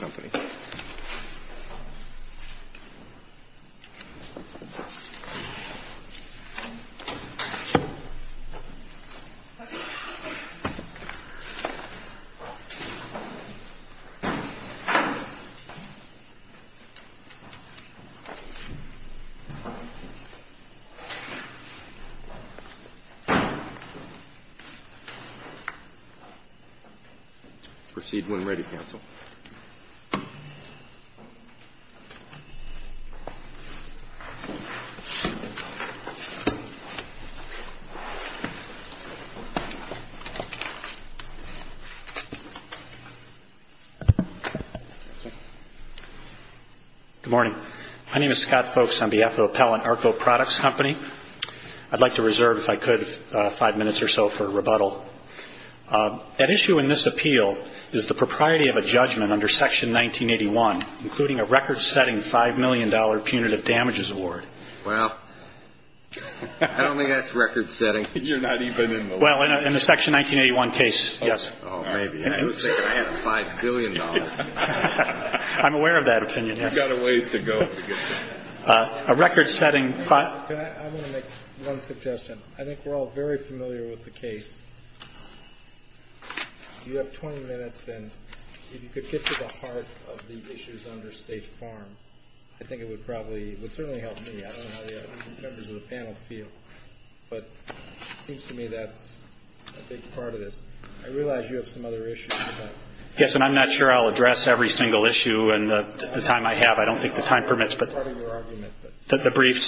Company. Good morning. My name is Scott Folks on behalf of Appellant ARCO Products Company. I'd like to reserve, if I could, 5 minutes or so for rebuttal. At issue in this appeal is the propriety of a judgment under Section 1981, including a record-setting $5 million punitive damages award. Well, I don't think that's record-setting. You're not even in the law. Well, in the Section 1981 case, yes. Oh, maybe. I was thinking I had a $5 billion. I'm aware of that opinion. I've got a ways to go to get there. A record-setting I'm going to make one suggestion. I think we're all very familiar with the case. You have 20 minutes, and if you could get to the heart of the issues under State Farm, I think it would probably, it would certainly help me. I don't know how the other members of the panel feel. But it seems to me that's a big part of this. I realize you have some other issues. Yes, and I'm not sure I'll address every single issue in the time I have. I don't think the time permits.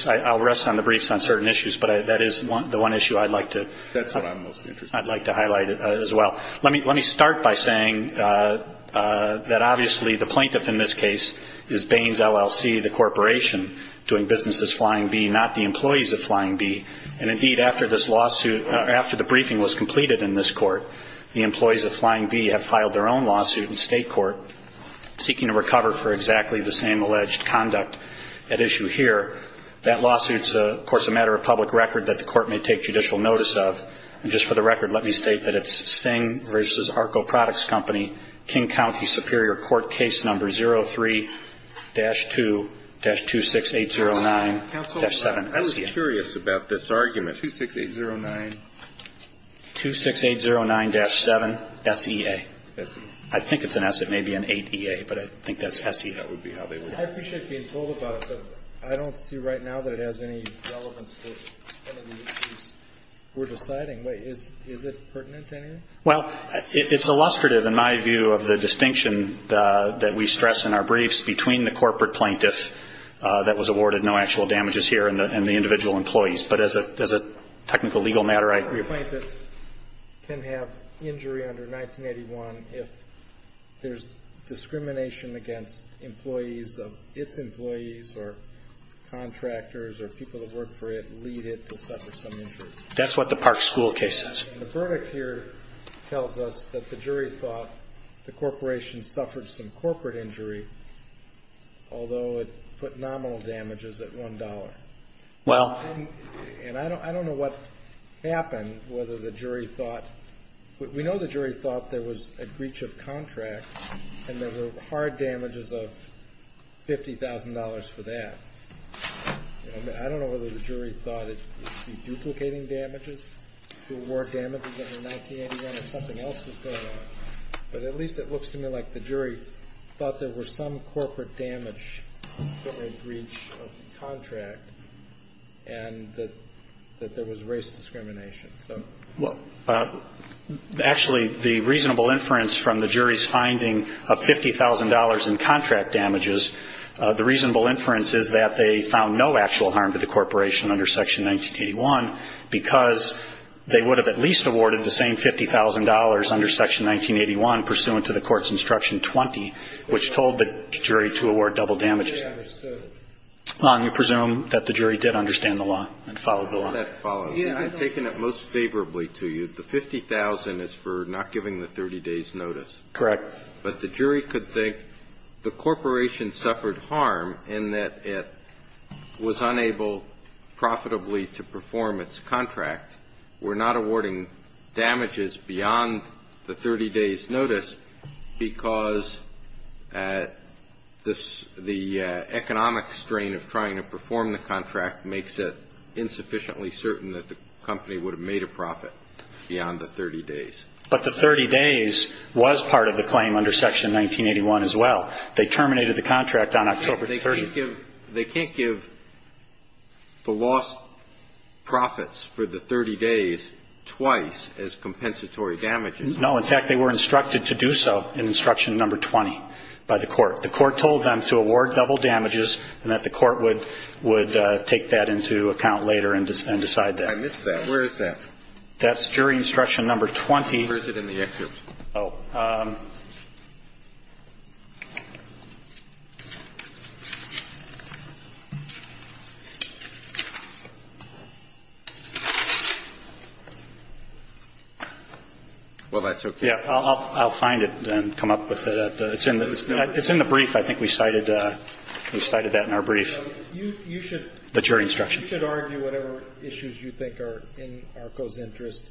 I'll rest on the briefs on certain issues, but that is the one issue I'd like to highlight as well. Let me start by saying that obviously the plaintiff in this case is Baines, LLC, the corporation doing business as Flying B, not the employees of Flying B. Indeed, after the briefing was completed in this court, the employees of Flying B have filed their own lawsuit in state court seeking to recover for exactly the same alleged conduct at issue here. That lawsuit is, of course, a matter of public record that the court may take judicial notice of. Just for the record, let me state that it's Singh v. Arco Products Company, King County Superior Court, case number 03-2-26809-7. I was curious about this argument, 26809. 26809-7, S-E-A. I think it's an S. It may be an 8-E-A, but I think that's S-E-A. I appreciate being told about it, but I don't see right now that it has any relevance to any of the issues we're deciding. Is it pertinent to anyone? Well, it's illustrative, in my view, of the distinction that we stress in our briefs between the corporate plaintiff that was awarded no actual damages here and the individual employees. But as a technical legal matter, I agree. Corporate plaintiff can have injury under 1981 if there's discrimination against employees of its employees or contractors or people that work for it, lead it to suffer some injury. That's what the Park School case says. The verdict here tells us that the jury thought the corporation suffered some corporate injury, although it put nominal damages at $1. Well. And I don't know what happened, whether the jury thought – we know the jury thought there was a breach of contract and there were hard damages of $50,000 for that. I don't know whether the jury thought it would be duplicating damages to award damages under 1981 or something else was going on. But at least it looks to me like the jury thought there were some corporate damage or a breach of contract and that there was race discrimination. Well, actually, the reasonable inference from the jury's finding of $50,000 in contract damages, the reasonable inference is that they found no actual harm to the corporation under Section 1981 because they would have at least awarded the same $50,000 under Section 1981 pursuant to the court's instruction 20, which told the jury to award double damages. And we presume that the jury did understand the law and followed the law. That follows. Yeah. I've taken it most favorably to you. The $50,000 is for not giving the 30 days' notice. Correct. But the jury could think the corporation suffered harm in that it was unable profitably to perform its contract, were not awarding damages beyond the 30 days' notice because the economic strain of trying to perform the contract makes it insufficiently certain that the company would have made a profit beyond the 30 days. But the 30 days was part of the claim under Section 1981 as well. They terminated the contract on October 30th. They can't give the lost profits for the 30 days twice as compensatory damages. No. In fact, they were instructed to do so in instruction number 20 by the court. The court told them to award double damages and that the court would take that into account later and decide that. I missed that. Where is that? That's jury instruction number 20. Where is it in the excerpt? Oh. Well, that's okay. Yeah. I'll find it and come up with it. It's in the brief. I think we cited that in our brief. You should argue whatever issues you think are in ARCO's interest.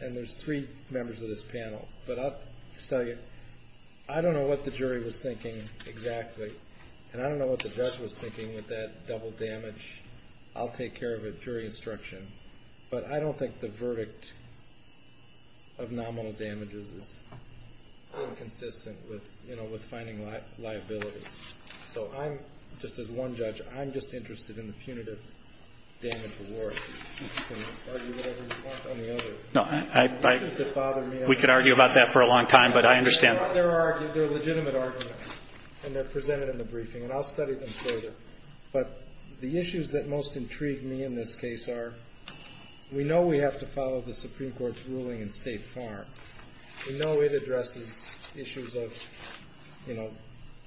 And there's three members of this panel. But I'll just tell you, I don't know what the jury was thinking exactly. And I don't know what the judge was thinking with that double damage. I'll take care of it, jury instruction. But I don't think the verdict of nominal damages is consistent with finding liabilities. So I'm, just as one judge, I'm just interested in the punitive damage award. You can argue whatever you want on the other. No. Issues that bother me. We could argue about that for a long time, but I understand. There are legitimate arguments, and they're presented in the briefing, and I'll study them further. But the issues that most intrigue me in this case are we know we have to follow the Supreme Court's ruling in State Farm. We know it addresses issues of, you know,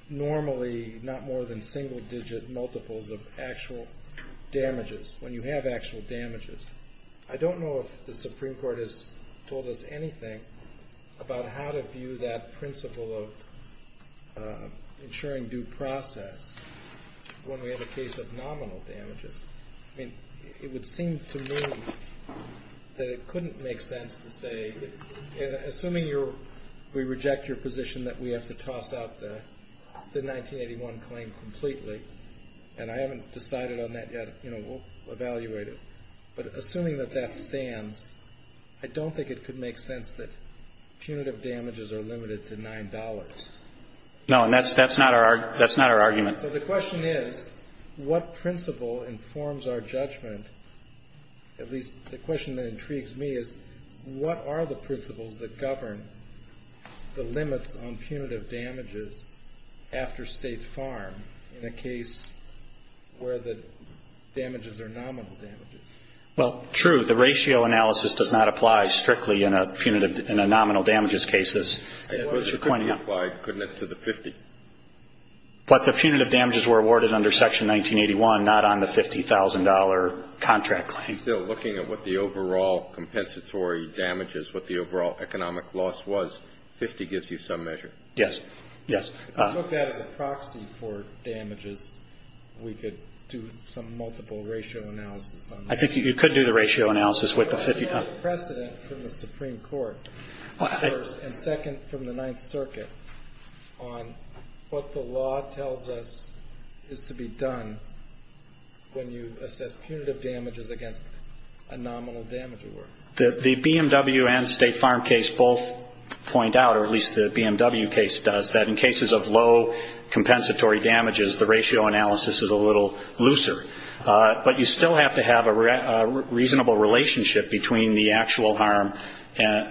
normally not more than single digit multiples of actual damages, when you have actual damages. I don't know if the Supreme Court has told us anything about how to view that principle of ensuring due process when we have a case of nominal damages. I mean, it would seem to me that it couldn't make sense to say, assuming we reject your position that we have to toss out the 1981 claim completely, and I haven't decided on that yet, you know, we'll evaluate it. But assuming that that stands, I don't think it could make sense that punitive damages are limited to $9. No, and that's not our argument. So the question is, what principle informs our judgment, at least the question that intrigues me is, what are the principles that govern the limits on punitive damages after State Farm in a case where the damages are nominal damages? Well, true. The ratio analysis does not apply strictly in a nominal damages case, as you're pointing out. It does apply, couldn't it, to the 50? But the punitive damages were awarded under Section 1981, not on the $50,000 contract claim. You're still looking at what the overall compensatory damage is, what the overall economic loss was. 50 gives you some measure. Yes. Yes. If you look at it as a proxy for damages, we could do some multiple ratio analysis on that. I think you could do the ratio analysis with the 50. There's a precedent from the Supreme Court, first, and second, from the Ninth Circuit, on what the law tells us is to be done when you assess punitive damages against a nominal damage award. The BMW and State Farm case both point out, or at least the BMW case does, that in cases of low compensatory damages, the ratio analysis is a little looser. But you still have to have a reasonable relationship between the actual harm,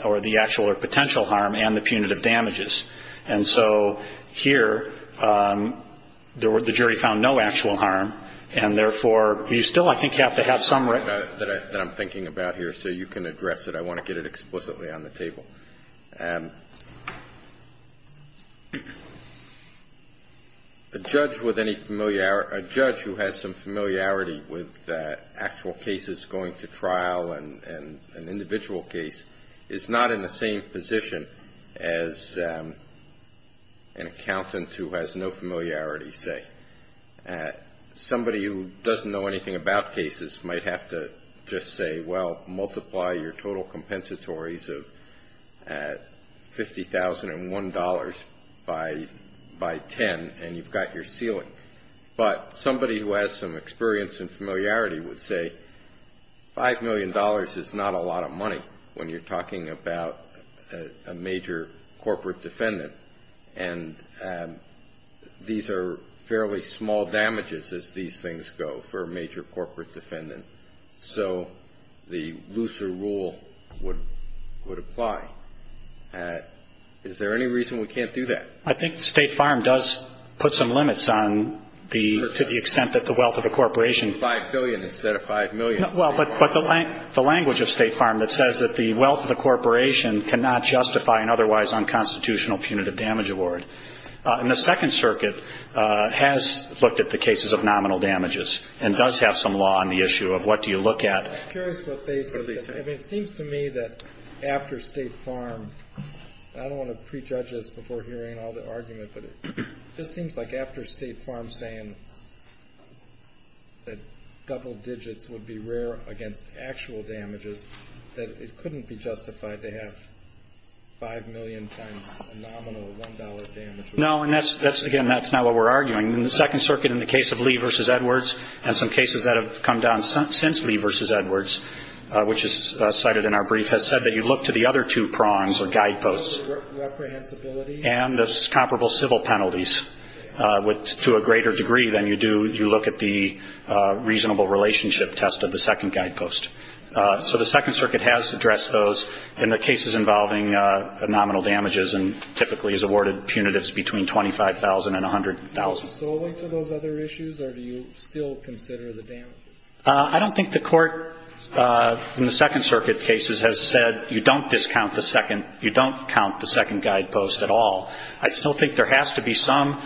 or the actual or potential harm, and the punitive damages. And so here, the jury found no actual harm, and therefore, you still, I think, have to have some right. That I'm thinking about here, so you can address it. A judge who has some familiarity with actual cases going to trial and an individual case is not in the same position as an accountant who has no familiarity, say. Somebody who doesn't know anything about cases might have to just say, well, multiply your total compensatories of $50,001 by 10, and you've got your ceiling. But somebody who has some experience and familiarity would say, $5 million is not a lot of money when you're talking about a major corporate defendant. And these are fairly small damages, as these things go, for a major corporate defendant. So the looser rule would apply. Is there any reason we can't do that? I think State Farm does put some limits on the, to the extent that the wealth of the corporation. $5 billion instead of $5 million. Well, but the language of State Farm that says that the wealth of the corporation cannot justify an otherwise unconstitutional punitive damage award. And the Second Circuit has looked at the cases of nominal damages and does have some law on the issue of what do you look at. I'm curious what they say. I mean, it seems to me that after State Farm, and I don't want to prejudge this before hearing all the argument, but it just seems like after State Farm saying that double digits would be rare against actual damages, that it couldn't be justified to have $5 million times a nominal $1 damage. No, and that's, again, that's not what we're arguing. The Second Circuit in the case of Lee v. Edwards and some cases that have come down since Lee v. Edwards, which is cited in our brief, has said that you look to the other two prongs or guideposts and the comparable civil penalties to a greater degree than you do when you look at the reasonable relationship test of the second guidepost. So the Second Circuit has addressed those in the cases involving nominal damages and typically has awarded punitives between $25,000 and $100,000. Are you solely to those other issues or do you still consider the damages? I don't think the Court in the Second Circuit cases has said you don't discount the second, you don't count the second guidepost at all. I still think there has to be some,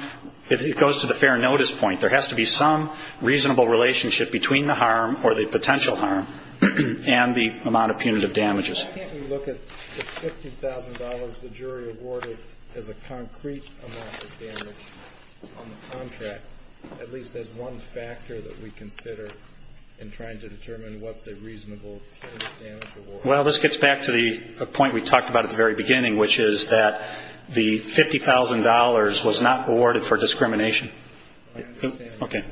it goes to the fair notice point, there has to be some reasonable relationship between the harm or the potential harm and the amount of punitive damages. Why can't we look at the $50,000 the jury awarded as a concrete amount of damage on the contract, at least as one factor that we consider in trying to determine what's a reasonable punitive damage award? Well, this gets back to the point we talked about at the very beginning, which is that the $50,000 was not awarded for discrimination. I understand that. Okay.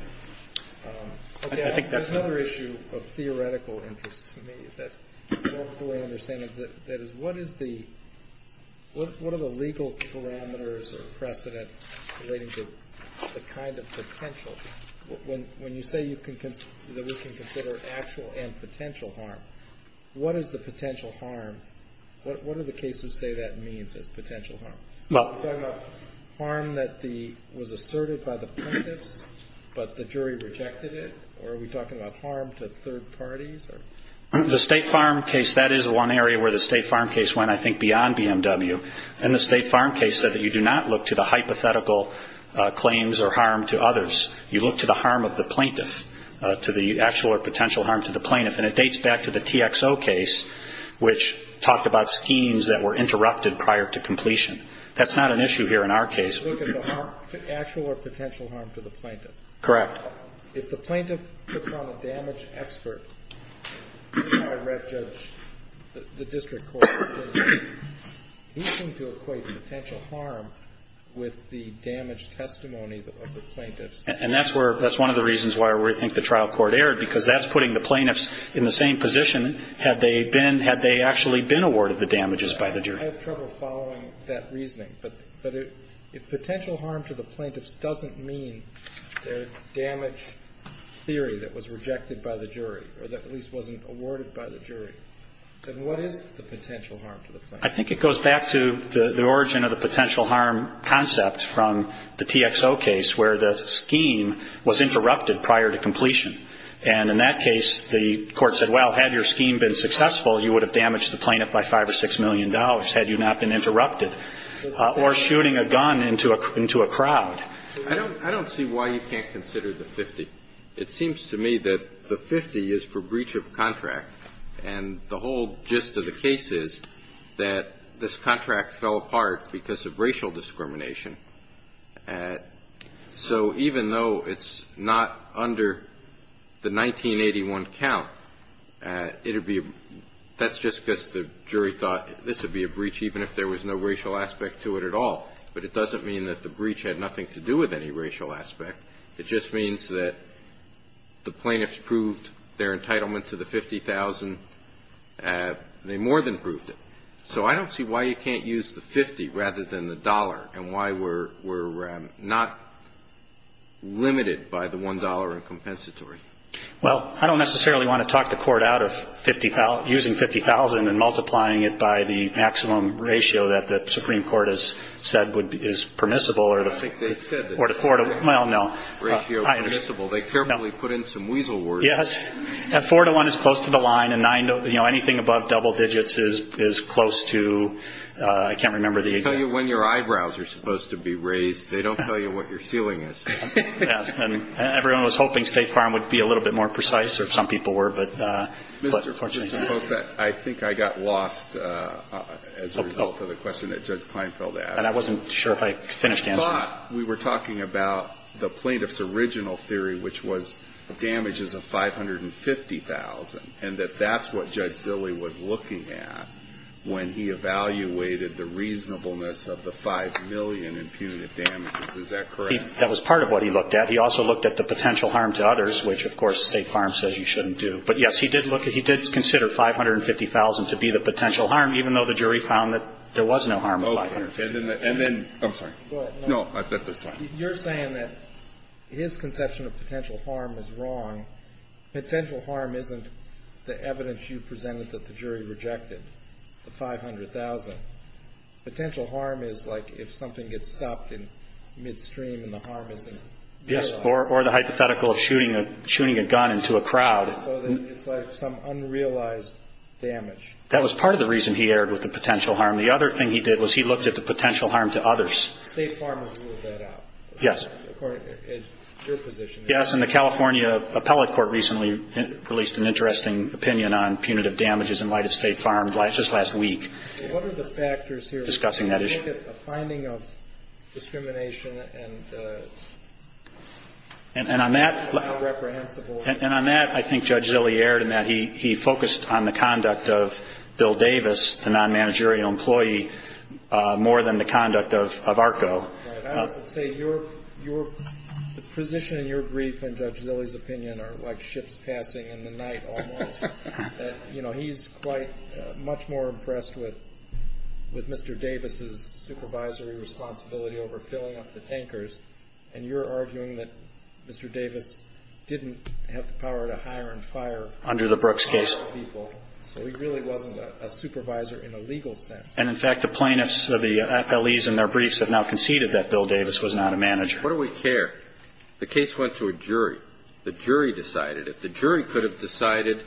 There's another issue of theoretical interest to me that I don't fully understand. That is, what is the, what are the legal parameters or precedent relating to the kind of potential? When you say you can, that we can consider actual and potential harm, what is the potential harm? What do the cases say that means as potential harm? You're talking about harm that was asserted by the plaintiffs, but the jury rejected it? Or are we talking about harm to third parties? The State Farm case, that is one area where the State Farm case went, I think, beyond BMW. And the State Farm case said that you do not look to the hypothetical claims or harm to others. You look to the harm of the plaintiff, to the actual or potential harm to the plaintiff. And it dates back to the TXO case, which talked about schemes that were interrupted prior to completion. That's not an issue here in our case. You look at the harm, the actual or potential harm to the plaintiff. Correct. If the plaintiff puts on a damage expert, a direct judge, the district court, he's going to equate potential harm with the damage testimony of the plaintiffs. And that's where, that's one of the reasons why we think the trial court erred, because that's putting the plaintiffs in the same position had they been, had they actually been awarded the damages by the jury. I have trouble following that reasoning. But if potential harm to the plaintiffs doesn't mean their damage theory that was rejected by the jury, or that at least wasn't awarded by the jury, then what is the potential harm to the plaintiffs? I think it goes back to the origin of the potential harm concept from the TXO case, where the scheme was interrupted prior to completion. And in that case, the court said, well, had your scheme been successful, you would have damaged the plaintiff by $5 or $6 million had you not been interrupted, or shooting a gun into a crowd. I don't see why you can't consider the 50. It seems to me that the 50 is for breach of contract. And the whole gist of the case is that this contract fell apart because of racial discrimination. So even though it's not under the 1981 count, it would be a – that's just because the jury thought this would be a breach even if there was no racial aspect to it at all. But it doesn't mean that the breach had nothing to do with any racial aspect. It just means that the plaintiffs proved their entitlement to the $50,000. They more than proved it. So I don't see why you can't use the 50 rather than the dollar and why we're not limited by the $1 in compensatory. Well, I don't necessarily want to talk the court out of using $50,000 and multiplying it by the maximum ratio that the Supreme Court has said is permissible or the 4 to – well, no. Ratio permissible. They carefully put in some weasel words. Yes. 4 to 1 is close to the line. And 9, you know, anything above double digits is close to – I can't remember the exact – They tell you when your eyebrows are supposed to be raised. They don't tell you what your ceiling is. Yes. And everyone was hoping State Farm would be a little bit more precise, or some people were. But fortunately – Mr. – folks, I think I got lost as a result of the question that Judge Kleinfeld asked. And I wasn't sure if I finished answering. But we were talking about the plaintiff's original theory, which was damages of $550,000, and that that's what Judge Zille was looking at when he evaluated the reasonableness of the $5 million in punitive damages. Is that correct? That was part of what he looked at. He also looked at the potential harm to others, which, of course, State Farm says you shouldn't do. But, yes, he did look – he did consider $550,000 to be the potential harm, even though the jury found that there was no harm of $550,000. And then – I'm sorry. Go ahead. No, I bet that's fine. You're saying that his conception of potential harm is wrong. Potential harm isn't the evidence you presented that the jury rejected, the $500,000. Potential harm is like if something gets stopped in midstream and the harm isn't realized. Yes, or the hypothetical of shooting a gun into a crowd. So it's like some unrealized damage. That was part of the reason he erred with the potential harm. The other thing he did was he looked at the potential harm to others. State Farm has ruled that out. Yes. According to your position. Yes, and the California Appellate Court recently released an interesting opinion on punitive damages in light of State Farm just last week. What are the factors here? Discussing that issue. Do you think it's a finding of discrimination and unreprehensible? And on that, I think Judge Zille erred in that he focused on the conduct of Bill Davis, the non-managerial employee, more than the conduct of ARCO. Right. I would say the position in your brief and Judge Zille's opinion are like ships passing in the night almost. You know, he's quite much more impressed with Mr. Davis' supervisory responsibility over filling up the tankers, and you're arguing that Mr. Davis didn't have the power to hire and fire people. Under the Brooks case. So he really wasn't a supervisor in a legal sense. And, in fact, the plaintiffs, the appellees in their briefs have now conceded that Bill Davis was not a manager. What do we care? The case went to a jury. The jury decided it. The jury could have decided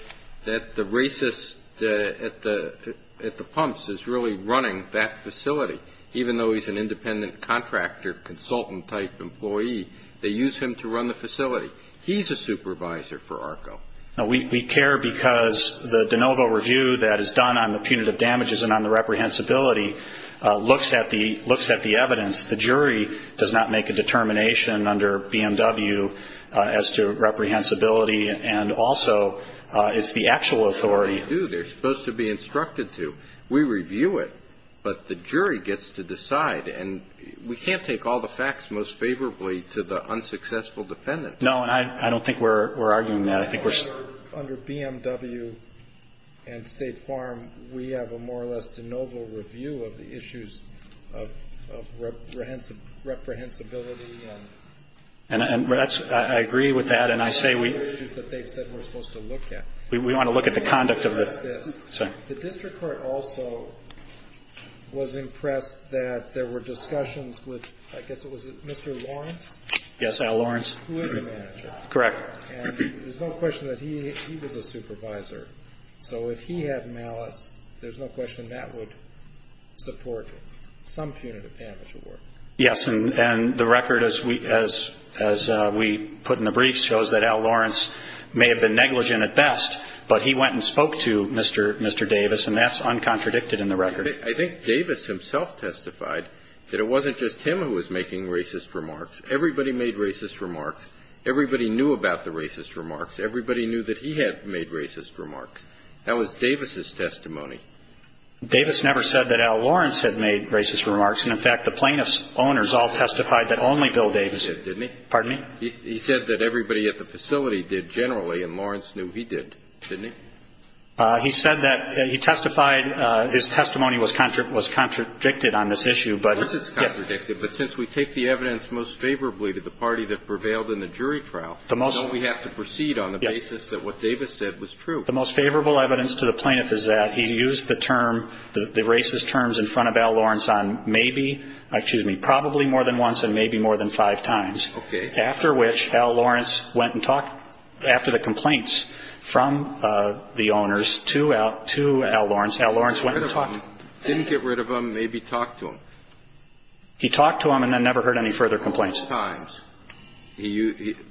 that the racist at the pumps is really running that facility, even though he's an independent contractor, consultant-type employee. They used him to run the facility. He's a supervisor for ARCO. No, we care because the de novo review that is done on the punitive damages and on the reprehensibility looks at the evidence. The jury does not make a determination under BMW as to reprehensibility, and also it's the actual authority. They do. They're supposed to be instructed to. We review it, but the jury gets to decide, and we can't take all the facts most favorably to the unsuccessful defendant. No, and I don't think we're arguing that. Under BMW and State Farm, we have a more or less de novo review of the issues of reprehensibility. I agree with that, and I say we want to look at the conduct of this. The district court also was impressed that there were discussions with, I guess, was it Mr. Lawrence? Yes, Al Lawrence. Who is the manager. Correct. And there's no question that he was a supervisor. So if he had malice, there's no question that would support some punitive damage award. Yes, and the record as we put in the brief shows that Al Lawrence may have been negligent at best, but he went and spoke to Mr. Davis, and that's uncontradicted in the record. I think Davis himself testified that it wasn't just him who was making racist remarks. Everybody made racist remarks. Everybody knew about the racist remarks. Everybody knew that he had made racist remarks. That was Davis' testimony. Davis never said that Al Lawrence had made racist remarks. And, in fact, the plaintiff's owners all testified that only Bill Davis did, didn't he? Pardon me? He said that everybody at the facility did generally, and Lawrence knew he did, didn't he? He said that he testified his testimony was contradicted on this issue, but yes. It was contradicted. But since we take the evidence most favorably to the party that prevailed in the jury trial, don't we have to proceed on the basis that what Davis said was true? The most favorable evidence to the plaintiff is that he used the term, the racist terms in front of Al Lawrence on maybe, excuse me, probably more than once and maybe more than five times. Okay. After which Al Lawrence went and talked, after the complaints from the owners to Al Lawrence, Al Lawrence went and talked. Didn't get rid of him. Maybe talked to him. He talked to him and then never heard any further complaints. Several times.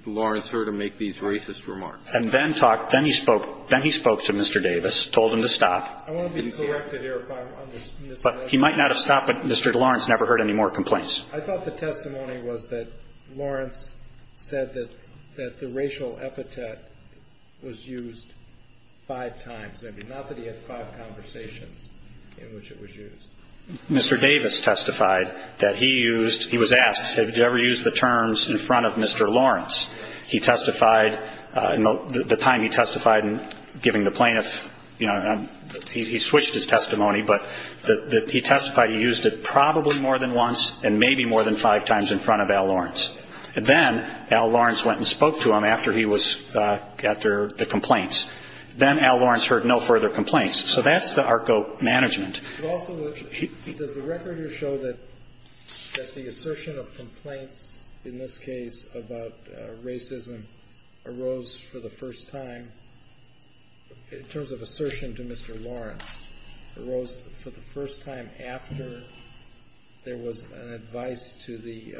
Lawrence heard him make these racist remarks. And then talked. Then he spoke. Then he spoke to Mr. Davis, told him to stop. I want to be corrected here if I'm misunderstanding. He might not have stopped, but Mr. Lawrence never heard any more complaints. I thought the testimony was that Lawrence said that the racial epithet was used five times. Not that he had five conversations in which it was used. Mr. Davis testified that he used, he was asked, have you ever used the terms in front of Mr. Lawrence? He testified, the time he testified in giving the plaintiff, you know, he switched his testimony, but he testified he used it probably more than once and maybe more than five times in front of Al Lawrence. And then Al Lawrence went and spoke to him after he was, after the complaints. Then Al Lawrence heard no further complaints. So that's the ARCO management. Also, does the record show that the assertion of complaints in this case about racism arose for the first time, in terms of assertion to Mr. Lawrence, arose for the first time after there was an advice to the,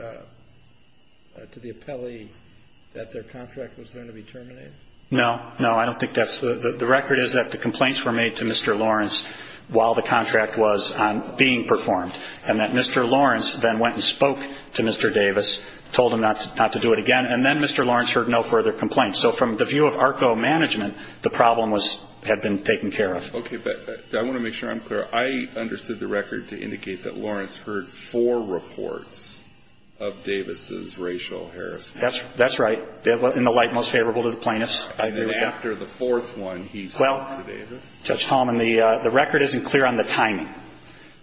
to the appellee that their contract was going to be terminated? No, no. I don't think that's, the record is that the complaints were made to Mr. Lawrence while the contract was being performed. And that Mr. Lawrence then went and spoke to Mr. Davis, told him not to do it again. And then Mr. Lawrence heard no further complaints. So from the view of ARCO management, the problem was, had been taken care of. Okay. But I want to make sure I'm clear. I understood the record to indicate that Lawrence heard four reports of Davis's racial harassment. That's right. In the light most favorable to the plaintiffs. I agree with that. And then after the fourth one, he spoke to Davis. Well, Judge Palmer, the record isn't clear on the timing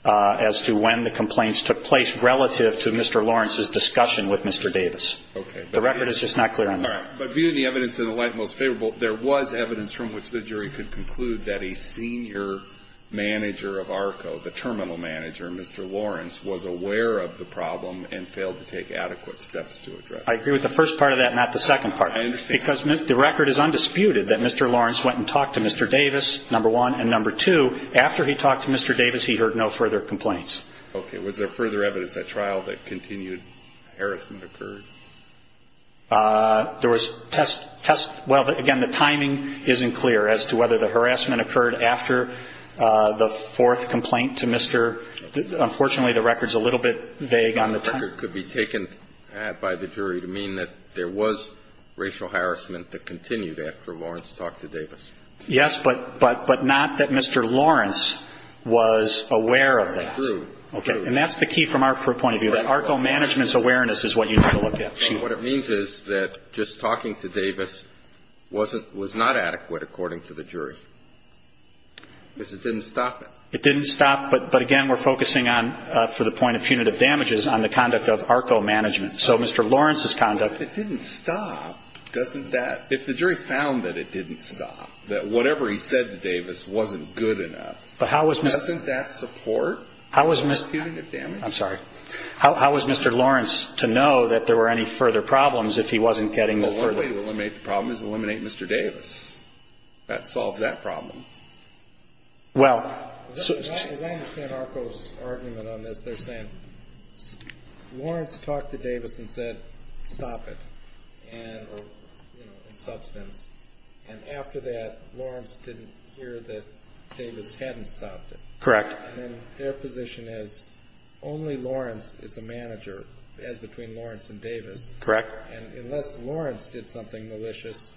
as to when the complaints took place relative to Mr. Lawrence's discussion with Mr. Davis. Okay. The record is just not clear on that. All right. But viewing the evidence in the light most favorable, there was evidence from which the jury could conclude that a senior manager of ARCO, the terminal manager, Mr. Lawrence, was aware of the problem and failed to take adequate steps to address it. I agree with the first part of that, not the second part. I understand. Because the record is undisputed that Mr. Lawrence went and talked to Mr. Davis, number one. And number two, after he talked to Mr. Davis, he heard no further complaints. Okay. Was there further evidence at trial that continued harassment occurred? There was test – well, again, the timing isn't clear as to whether the harassment occurred after the fourth complaint to Mr. – unfortunately, the record's a little bit vague on the timing. The record could be taken by the jury to mean that there was racial harassment that continued after Lawrence talked to Davis. Yes, but not that Mr. Lawrence was aware of that. I agree. Okay. And that's the key from our point of view, that ARCO management's awareness is what you need to look at. So what it means is that just talking to Davis wasn't – was not adequate, according to the jury, because it didn't stop it. It didn't stop. But, again, we're focusing on, for the point of punitive damages, on the conduct of ARCO management. So Mr. Lawrence's conduct – But if it didn't stop, doesn't that – if the jury found that it didn't stop, that whatever he said to Davis wasn't good enough, doesn't that support punitive damages? I'm sorry. How was Mr. Lawrence to know that there were any further problems if he wasn't getting the further – Well, one way to eliminate the problem is eliminate Mr. Davis. That solves that problem. Well – As I understand ARCO's argument on this, they're saying Lawrence talked to Davis and said, stop it, and – or, you know, in substance. And after that, Lawrence didn't hear that Davis hadn't stopped it. Correct. And then their position is only Lawrence is a manager, as between Lawrence and Davis. Correct. And unless Lawrence did something malicious,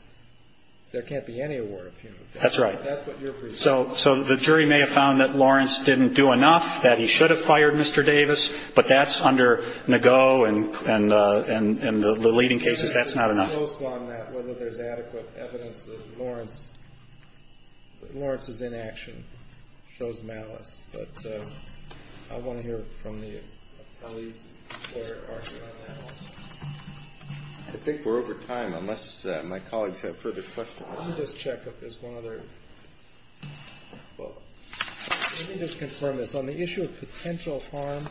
there can't be any award of punitive damages. That's right. That's what you're presuming. So the jury may have found that Lawrence didn't do enough, that he should have fired Mr. Davis, but that's under Nago and the leading cases. That's not enough. I'm just going to be close on that, whether there's adequate evidence that Lawrence's inaction shows malice. But I want to hear from the attorney's lawyer argument on that also. I think we're over time, unless my colleagues have further questions. Let me just check if there's one other. Let me just confirm this. On the issue of potential harm,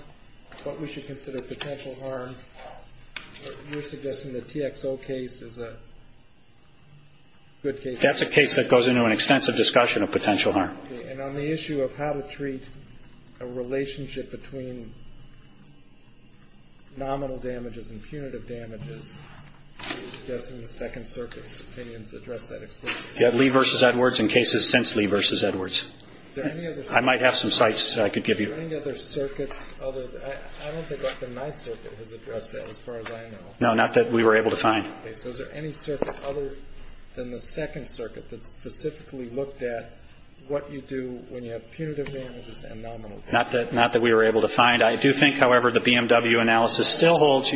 what we should consider potential harm, you're suggesting the TXO case is a good case? That's a case that goes into an extensive discussion of potential harm. Okay. And on the issue of how to treat a relationship between nominal damages and punitive damages, you're suggesting the Second Circuit's opinions address that explicitly? You have Lee v. Edwards and cases since Lee v. Edwards. Is there any other circuit? I might have some sites I could give you. Are there any other circuits? I don't think the Ninth Circuit has addressed that as far as I know. No, not that we were able to find. Okay. So is there any circuit other than the Second Circuit that specifically looked at what you do when you have punitive damages and nominal damages? Not that we were able to find. I do think, however, the BMW analysis still holds.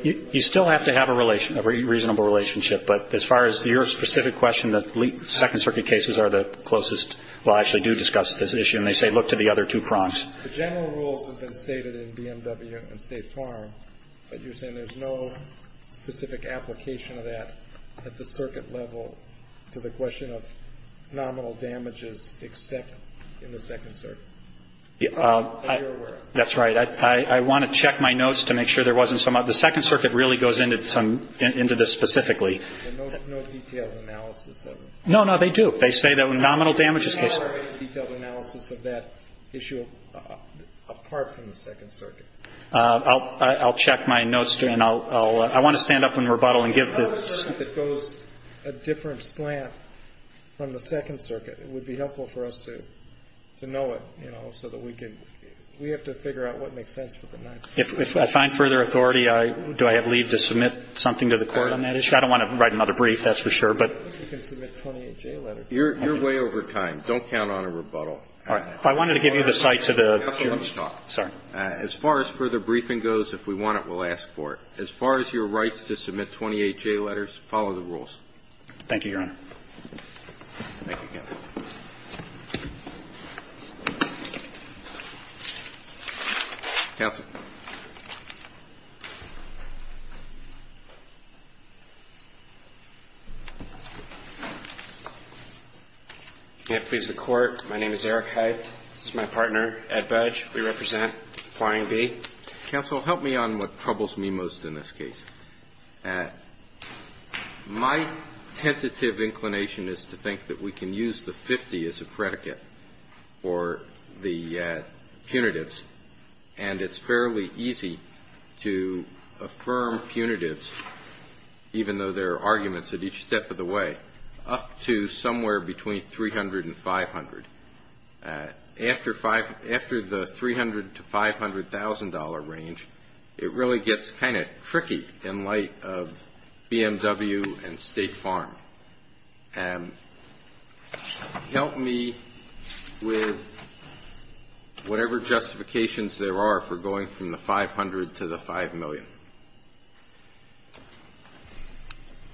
You still have to have a reasonable relationship. But as far as your specific question, the Second Circuit cases are the closest that actually do discuss this issue, and they say look to the other two prongs. The general rules have been stated in BMW and State Farm, but you're saying there's no specific application of that at the circuit level to the question of nominal damages except in the Second Circuit? That's right. I want to check my notes to make sure there wasn't some other. The Second Circuit really goes into this specifically. No detailed analysis of it? No, no, they do. They say that when nominal damages case ñ I don't have any detailed analysis of that issue apart from the Second Circuit. I'll check my notes, and I want to stand up in rebuttal and give the ñ If you have a circuit that goes a different slant from the Second Circuit, it would be helpful for us to know it, you know, so that we can ñ we have to figure out what makes sense for the next. If I find further authority, do I have leave to submit something to the Court on that issue? I don't want to write another brief, that's for sure, but ñ You can submit a 28-J letter. You're way over time. Don't count on a rebuttal. All right. I wanted to give you the site to the ñ Counsel, let's stop. Sorry. As far as further briefing goes, if we want it, we'll ask for it. As far as your rights to submit 28-J letters, follow the rules. Thank you, Your Honor. Thank you, counsel. Counsel. Can it please the Court? My name is Eric Hyde. This is my partner, Ed Budge. We represent Flying Bee. Counsel, help me on what troubles me most in this case. My tentative inclination is to think that we can use the 50 as a predicate for the punitives, and it's fairly easy to affirm punitives, even though there are arguments at each step of the way, up to somewhere between 300 and 500. After the 300 to $500,000 range, it really gets kind of tricky in light of BMW and State Farm. Help me with whatever justifications there are for going from the 500 to the 5 million.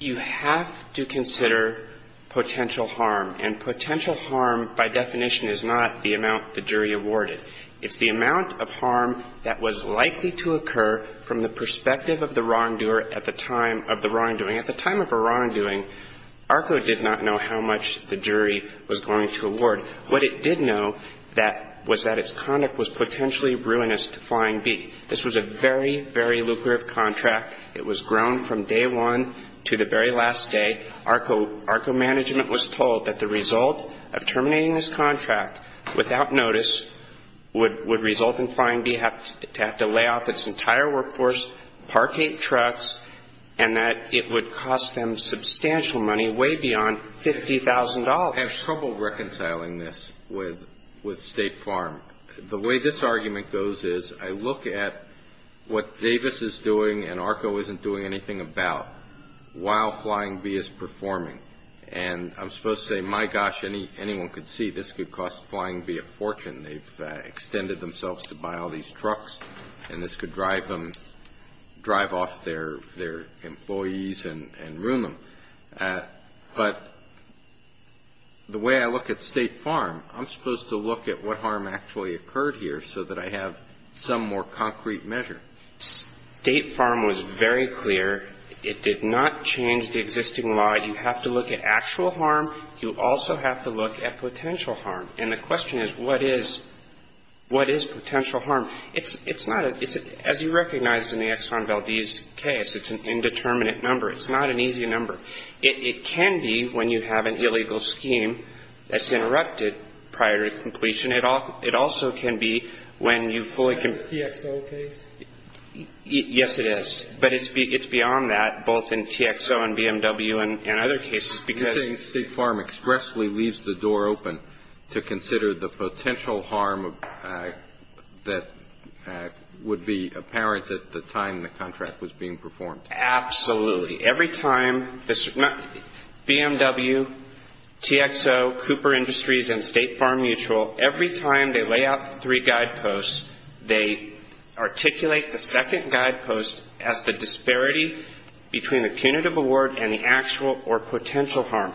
You have to consider potential harm, and potential harm by definition is not the amount the jury awarded. It's the amount of harm that was likely to occur from the perspective of the wrongdoer at the time of the wrongdoing. At the time of a wrongdoing, ARCO did not know how much the jury was going to award. What it did know was that its conduct was potentially ruinous to Flying Bee. This was a very, very lucrative contract. It was grown from day one to the very last day. ARCO management was told that the result of terminating this contract without notice would result in Flying Bee having to lay off its entire workforce, park eight trucks, and that it would cost them substantial money, way beyond $50,000. I have trouble reconciling this with State Farm. The way this argument goes is I look at what Davis is doing and ARCO isn't doing anything about while Flying Bee is performing, and I'm supposed to say, my gosh, anyone could see this could cost Flying Bee a fortune. They've extended themselves to buy all these trucks, and this could drive off their employees and ruin them. But the way I look at State Farm, I'm supposed to look at what harm actually occurred here so that I have some more concrete measure. State Farm was very clear it did not change the existing law. You have to look at actual harm. You also have to look at potential harm. And the question is what is potential harm? It's not as you recognize in the Exxon Valdez case. It's an indeterminate number. It's not an easy number. It can be when you have an illegal scheme that's interrupted prior to completion. It also can be when you fully can ---- Is that the TXO case? Yes, it is. But it's beyond that, both in TXO and BMW and other cases, because ---- You're saying State Farm expressly leaves the door open to consider the potential harm that would be apparent at the time the contract was being performed. Absolutely. Every time this ---- BMW, TXO, Cooper Industries, and State Farm Mutual, every time they lay out the three guideposts, they articulate the second guidepost as the disparity between the punitive award and the actual or potential harm.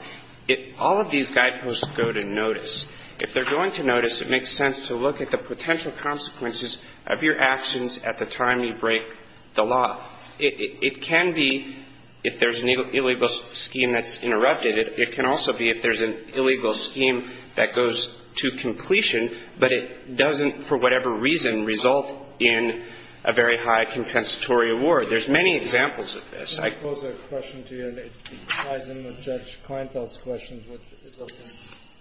All of these guideposts go to notice. If they're going to notice, it makes sense to look at the potential consequences of your actions at the time you break the law. It can be if there's an illegal scheme that's interrupted. It can also be if there's an illegal scheme that goes to completion, but it doesn't, for whatever reason, result in a very high compensatory award. There's many examples of this. Can I pose a question to you? It ties in with Judge Kleinfeld's questions, which is something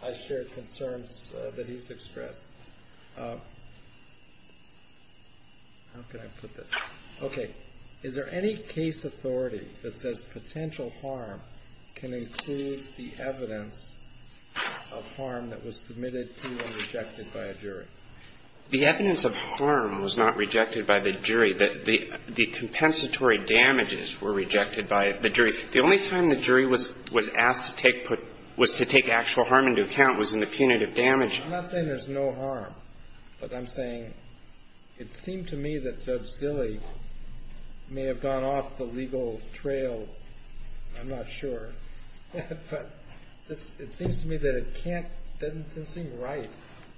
I shared concerns that he's expressed. How can I put this? Okay. Is there any case authority that says potential harm can include the evidence of harm that was submitted to and rejected by a jury? The evidence of harm was not rejected by the jury. The compensatory damages were rejected by the jury. The only time the jury was asked to take actual harm into account was in the punitive damage. I'm not saying there's no harm, but I'm saying it seemed to me that Judge Zille may have gone off the legal trail. I'm not sure. But it seems to me that it can't seem right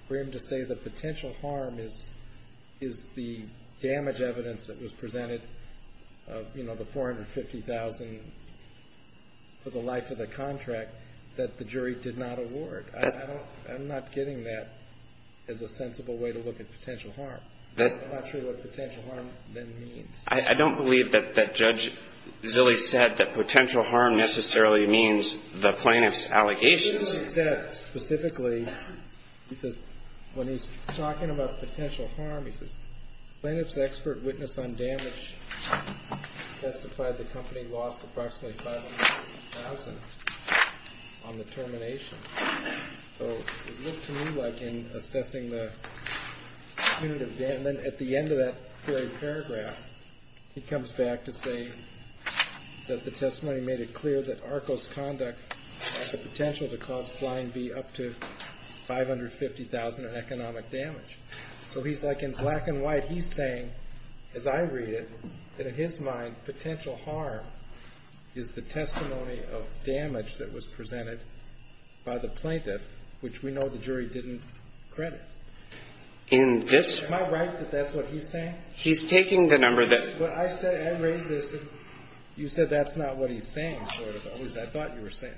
for him to say the potential harm is the damage evidence that was presented, you know, the $450,000 for the life of the contract that the jury did not award. I'm not getting that as a sensible way to look at potential harm. I'm not sure what potential harm then means. I don't believe that Judge Zille said that potential harm necessarily means the plaintiff's allegations. He didn't say that specifically. He says when he's talking about potential harm, he says, Plaintiff's expert witness on damage testified the company lost approximately $500,000 on the termination. So it looked to me like in assessing the punitive damage, at the end of that very paragraph, he comes back to say that the testimony made it clear that ARCO's conduct had the potential to cause Flying V up to $550,000 in economic damage. So he's like, in black and white, he's saying, as I read it, that in his mind, potential harm is the testimony of damage that was presented by the plaintiff, which we know the jury didn't credit. Am I right that that's what he's saying? He's taking the number that you said that's not what he's saying. I thought you were saying.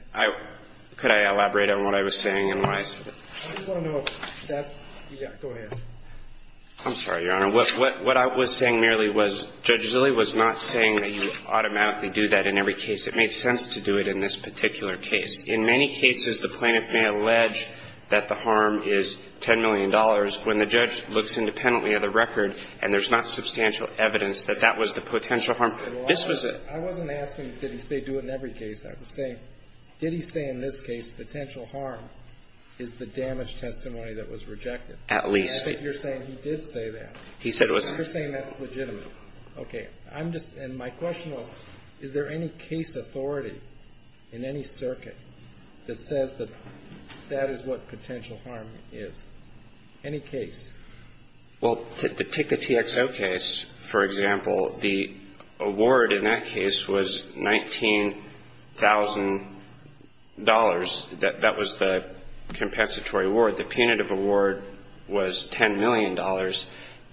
Could I elaborate on what I was saying and why? I just want to know if that's, yeah, go ahead. I'm sorry, Your Honor. What I was saying merely was Judge Zille was not saying that you automatically do that in every case. It made sense to do it in this particular case. In many cases, the plaintiff may allege that the harm is $10 million. When the judge looks independently of the record and there's not substantial evidence that that was the potential harm, this was it. I wasn't asking did he say do it in every case. I was saying did he say in this case potential harm is the damage testimony that was rejected? At least. I think you're saying he did say that. He said it was. You're saying that's legitimate. Okay. I'm just, and my question was, is there any case authority in any circuit that says that that is what potential harm is? Any case? Well, take the TXO case, for example. The award in that case was $19,000. That was the compensatory award. The punitive award was $10 million.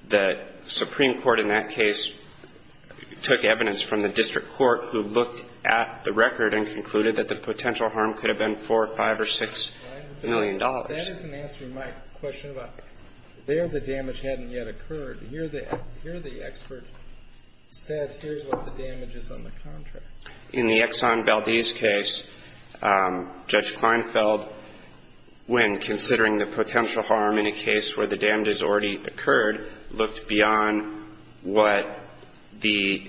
The Supreme Court in that case took evidence from the district court who looked at the record and concluded that the potential harm could have been $4, $5, or $6 million. That isn't answering my question about there the damage hadn't yet occurred. Here the expert said here's what the damage is on the contract. In the Exxon Valdez case, Judge Kleinfeld, when considering the potential harm in a case where the damage has already occurred, looked beyond what the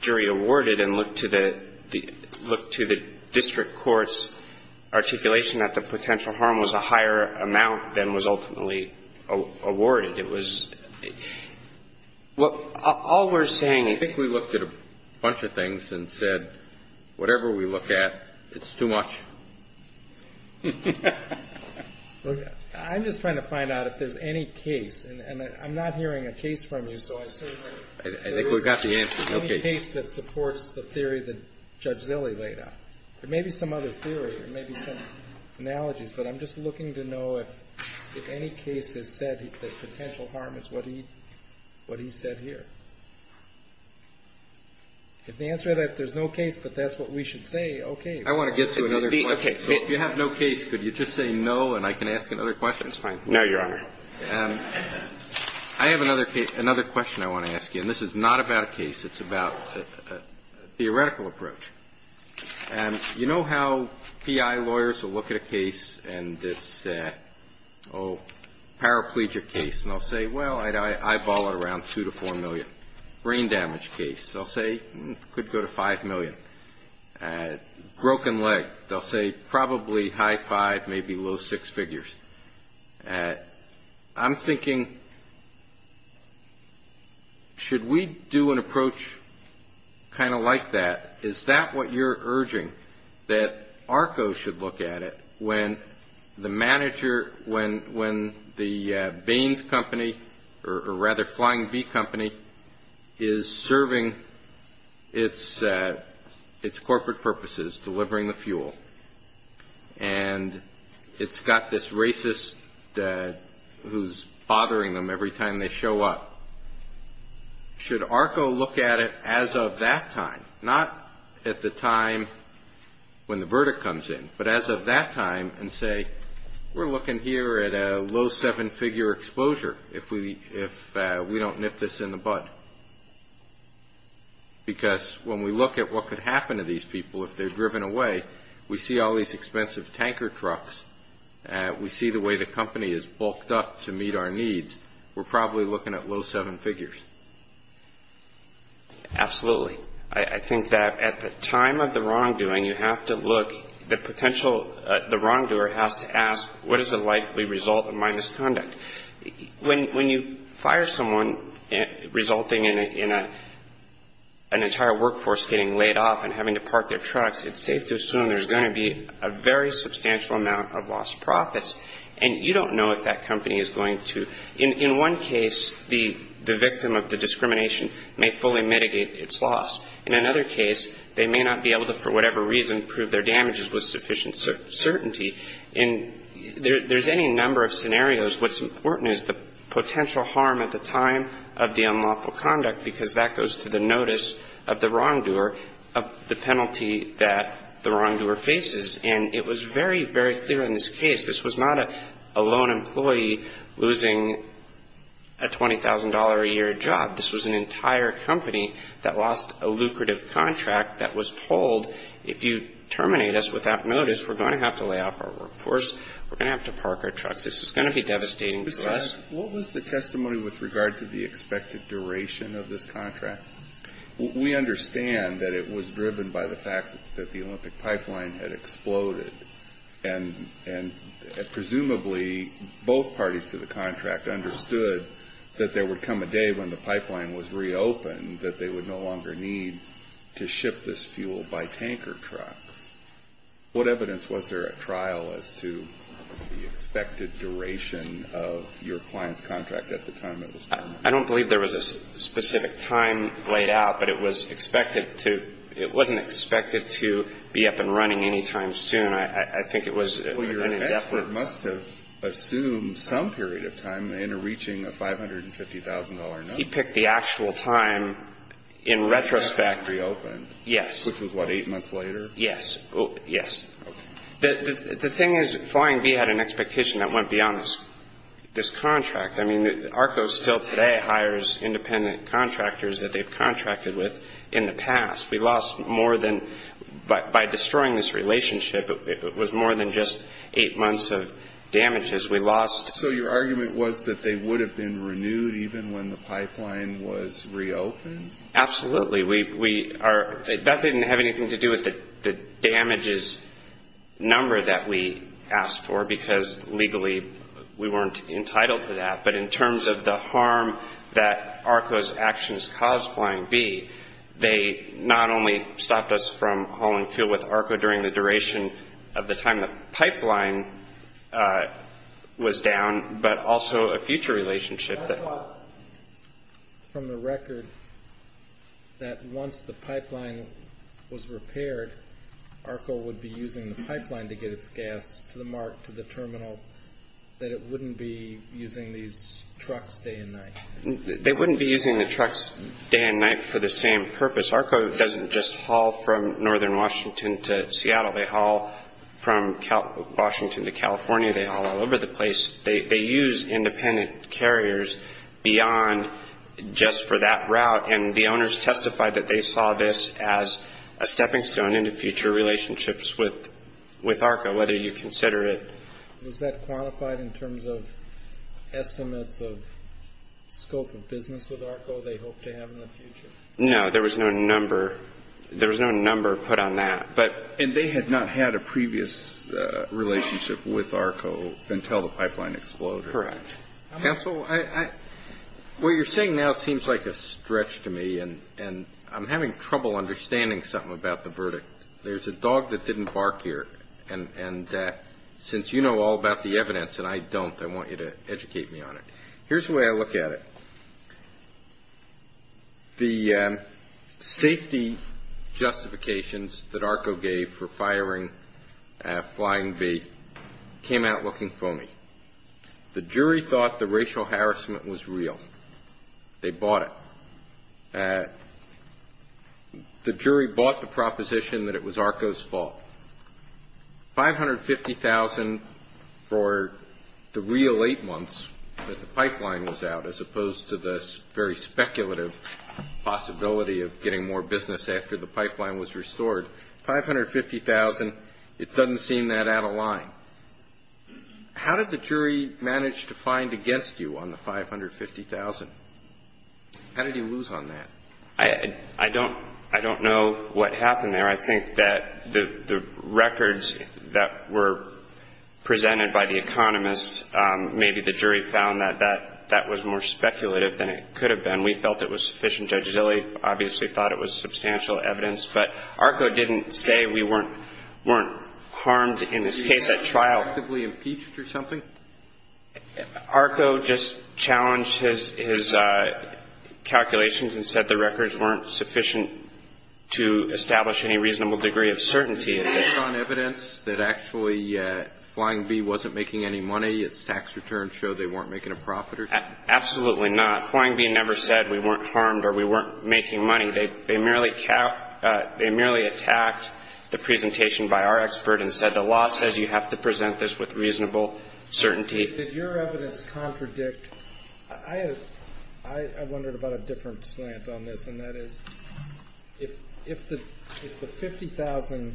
jury awarded and looked to the district court's articulation that the potential harm was a higher amount than was ultimately awarded. It was, well, all we're saying is. I think we looked at a bunch of things and said, whatever we look at, it's too much. I'm just trying to find out if there's any case, and I'm not hearing a case from you, so I assume that there is any case that supports the theory that Judge Zille laid out. There may be some other theory. There may be some analogies, but I'm just looking to know if any case has said that potential harm is what he said here. If the answer is that there's no case, but that's what we should say, okay. I want to get to another question. If you have no case, could you just say no, and I can ask another question? That's fine. No, Your Honor. I have another question I want to ask you, and this is not about a case. It's about a theoretical approach. You know how PI lawyers will look at a case and it's a paraplegic case, and they'll say, well, I'd eyeball it around 2 to 4 million. Brain damage case, they'll say, could go to 5 million. Broken leg, they'll say probably high five, maybe low six figures. I'm thinking, should we do an approach kind of like that? Is that what you're urging, that ARCO should look at it when the manager, when the Baines Company, or rather Flying B Company, is serving its corporate purposes, delivering the fuel, and it's got this racist who's bothering them every time they show up. Should ARCO look at it as of that time, not at the time when the verdict comes in, but as of that time and say, we're looking here at a low seven-figure exposure if we don't nip this in the bud? Because when we look at what could happen to these people if they're driven away, we see all these expensive tanker trucks. We see the way the company is bulked up to meet our needs. We're probably looking at low seven figures. Absolutely. I think that at the time of the wrongdoing, you have to look, the potential, the wrongdoer has to ask, what is the likely result of my misconduct? When you fire someone resulting in an entire workforce getting laid off and having to park their trucks, it's safe to assume there's going to be a very substantial amount of lost profits, and you don't know if that company is going to, in one case, the victim of the discrimination may fully mitigate its loss. In another case, they may not be able to, for whatever reason, prove their damages with sufficient certainty. And there's any number of scenarios. What's important is the potential harm at the time of the unlawful conduct, because that goes to the notice of the wrongdoer of the penalty that the wrongdoer faces. And it was very, very clear in this case, this was not a lone employee losing a $20,000-a-year job. This was an entire company that lost a lucrative contract that was told, if you terminate us without notice, we're going to have to lay off our workforce. We're going to have to park our trucks. This is going to be devastating to us. What was the testimony with regard to the expected duration of this contract? We understand that it was driven by the fact that the Olympic pipeline had exploded, and presumably both parties to the contract understood that there would come a day when the pipeline was reopened and that they would no longer need to ship this fuel by tanker trucks. What evidence was there at trial as to the expected duration of your client's contract at the time it was terminated? I don't believe there was a specific time laid out, but it was expected to – it wasn't expected to be up and running anytime soon. I think it was an indefinite time. Well, your expert must have assumed some period of time in reaching a $550,000 number. He picked the actual time in retrospect. After it reopened? Yes. Which was, what, eight months later? Yes. Okay. The thing is, Flying B had an expectation that went beyond this contract. I mean, ARCO still today hires independent contractors that they've contracted with in the past. We lost more than – by destroying this relationship, it was more than just eight months of damages. So your argument was that they would have been renewed even when the pipeline was reopened? Absolutely. That didn't have anything to do with the damages number that we asked for because legally we weren't entitled to that. But in terms of the harm that ARCO's actions caused Flying B, they not only stopped us from hauling fuel with ARCO during the duration of the time the pipeline was down, but also a future relationship that – That's why, from the record, that once the pipeline was repaired, ARCO would be using the pipeline to get its gas to the mark, to the terminal, that it wouldn't be using these trucks day and night. They wouldn't be using the trucks day and night for the same purpose. ARCO doesn't just haul from northern Washington to Seattle. They haul from Washington to California. They haul all over the place. They use independent carriers beyond just for that route, and the owners testified that they saw this as a stepping stone into future relationships with ARCO, whether you consider it. Was that quantified in terms of estimates of scope of business with ARCO they hoped to have in the future? No. There was no number put on that. And they had not had a previous relationship with ARCO until the pipeline exploded. Correct. Counsel, what you're saying now seems like a stretch to me, and I'm having trouble understanding something about the verdict. There's a dog that didn't bark here, and since you know all about the evidence and I don't, I want you to educate me on it. Here's the way I look at it. The safety justifications that ARCO gave for firing Flying V came out looking foamy. The jury thought the racial harassment was real. They bought it. The jury bought the proposition that it was ARCO's fault. $550,000 for the real eight months that the pipeline was out, as opposed to the very speculative possibility of getting more business after the pipeline was restored, $550,000, it doesn't seem that out of line. How did the jury manage to find against you on the $550,000? How did you lose on that? I don't know what happened there. I think that the records that were presented by the economists, maybe the jury found that that was more speculative than it could have been. We felt it was sufficient. Judge Zille obviously thought it was substantial evidence. But ARCO didn't say we weren't harmed in this case at trial. Were you actively impeached or something? ARCO just challenged his calculations and said the records weren't sufficient to establish any reasonable degree of certainty. Is there strong evidence that actually Flying V wasn't making any money? Its tax returns show they weren't making a profit or something? Absolutely not. Flying V never said we weren't harmed or we weren't making money. They merely attacked the presentation by our expert and said the law says you have to present this with reasonable certainty. Did your evidence contradict? I wondered about a different slant on this, and that is, if the $50,000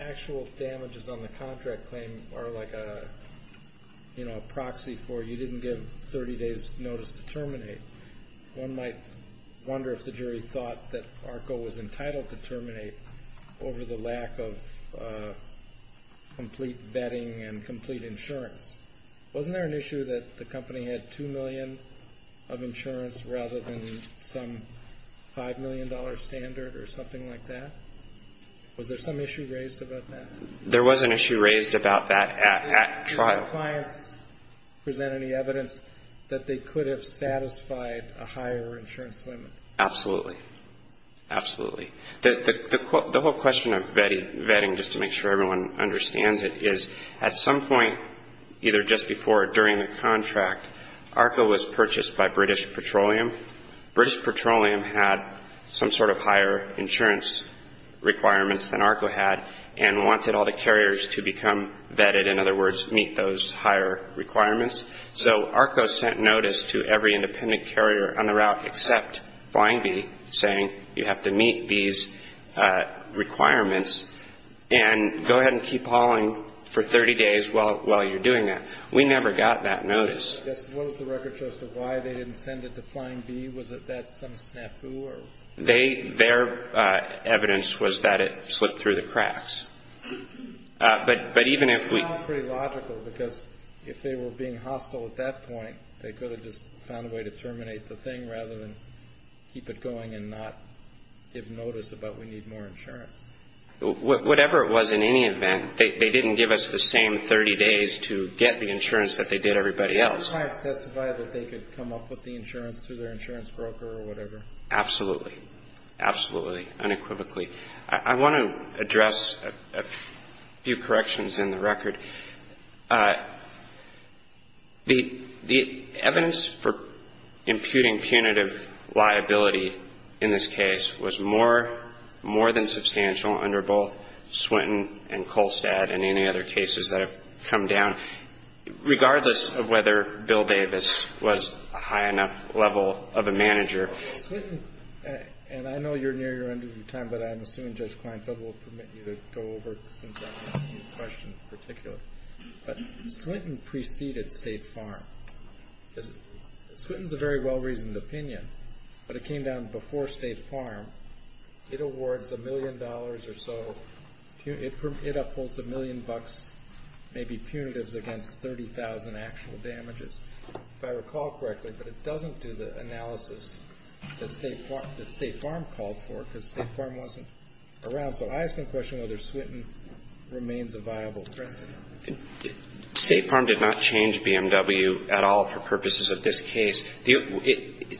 actual damages on the contract claim are like a proxy for you didn't give 30 days notice to terminate, one might wonder if the jury thought that ARCO was entitled to terminate over the lack of complete vetting and complete insurance. Wasn't there an issue that the company had $2 million of insurance rather than some $5 million standard or something like that? Was there some issue raised about that? There was an issue raised about that at trial. Did the clients present any evidence that they could have satisfied a higher insurance limit? Absolutely. Absolutely. The whole question of vetting, just to make sure everyone understands it, is at some point either just before or during the contract, ARCO was purchased by British Petroleum. British Petroleum had some sort of higher insurance requirements than ARCO had and wanted all the carriers to become vetted, in other words, meet those higher requirements. So ARCO sent notice to every independent carrier on the route except Flying B saying you have to meet these requirements and go ahead and keep hauling for 30 days while you're doing that. We never got that notice. What was the record show as to why they didn't send it to Flying B? Was that some snafu? Their evidence was that it slipped through the cracks. That sounds pretty logical because if they were being hostile at that point, they could have just found a way to terminate the thing rather than keep it going and not give notice about we need more insurance. Whatever it was, in any event, they didn't give us the same 30 days to get the insurance that they did everybody else. Did the clients testify that they could come up with the insurance through their insurance broker or whatever? Absolutely. Absolutely. Unequivocally. I want to address a few corrections in the record. The evidence for imputing punitive liability in this case was more than substantial under both Swinton and Kolstad and any other cases that have come down, regardless of whether Bill Davis was a high enough level of a manager. Swinton, and I know you're near your end of your time, but I'm assuming Judge Kleinfeld will permit you to go over since I'm asking you a question in particular. But Swinton preceded State Farm. Swinton's a very well-reasoned opinion, but it came down before State Farm. It awards a million dollars or so. It upholds a million bucks, maybe punitives, against 30,000 actual damages, if I recall correctly. But it doesn't do the analysis that State Farm called for because State Farm wasn't around. So I ask the question whether Swinton remains a viable precedent. State Farm did not change BMW at all for purposes of this case.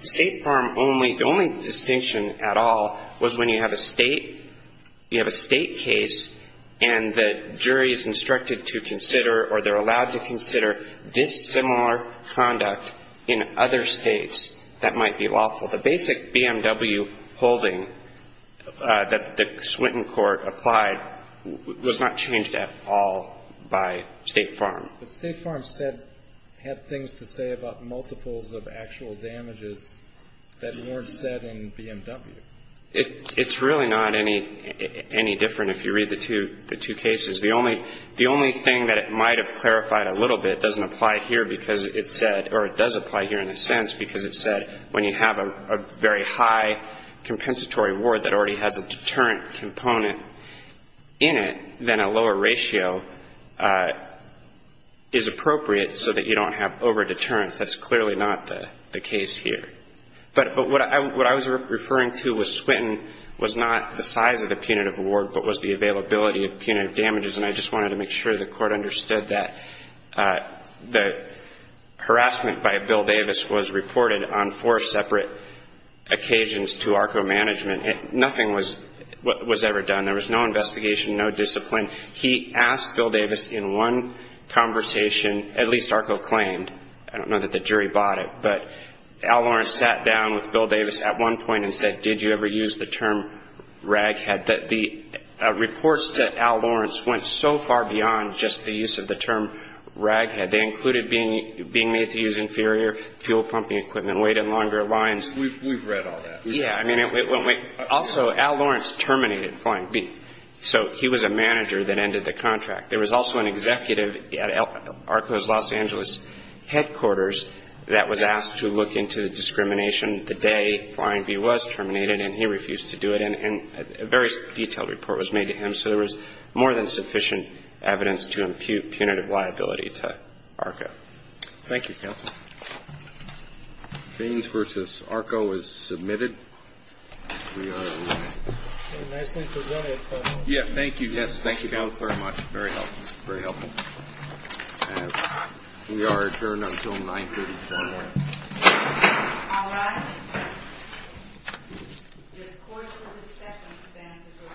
State Farm only the only distinction at all was when you have a state case and the jury is instructed to consider or they're allowed to consider dissimilar conduct in other states that might be lawful. The basic BMW holding that the Swinton court applied was not changed at all by State Farm. But State Farm said, had things to say about multiples of actual damages that weren't said in BMW. It's really not any different if you read the two cases. The only thing that it might have clarified a little bit doesn't apply here because it said or it does apply here in a sense because it said when you have a very high compensatory award that already has a deterrent component in it, then a lower ratio is appropriate so that you don't have over-deterrence. That's clearly not the case here. But what I was referring to was Swinton was not the size of the punitive award, but was the availability of punitive damages. And I just wanted to make sure the court understood that the harassment by Bill Davis was reported on four separate occasions to ARCO management. Nothing was ever done. There was no investigation, no discipline. He asked Bill Davis in one conversation, at least ARCO claimed. I don't know that the jury bought it, but Al Lawrence sat down with Bill Davis at one point and said, did you ever use the term raghead? The reports that Al Lawrence went so far beyond just the use of the term raghead. They included being made to use inferior fuel pumping equipment, waiting longer lines. We've read all that. Yeah. Also, Al Lawrence terminated Flying B. So he was a manager that ended the contract. There was also an executive at ARCO's Los Angeles headquarters that was asked to look into the discrimination the day Flying B. was terminated, and he refused to do it. And a very detailed report was made to him. So there was more than sufficient evidence to impute punitive liability to ARCO. Thank you, counsel. Baines v. ARCO is submitted. We are adjourned. Nicely presented. Yeah, thank you. Yes, thank you both very much. Very helpful. Very helpful. We are adjourned until 930. All rise. This court will discuss and stand adjourned. Thank you.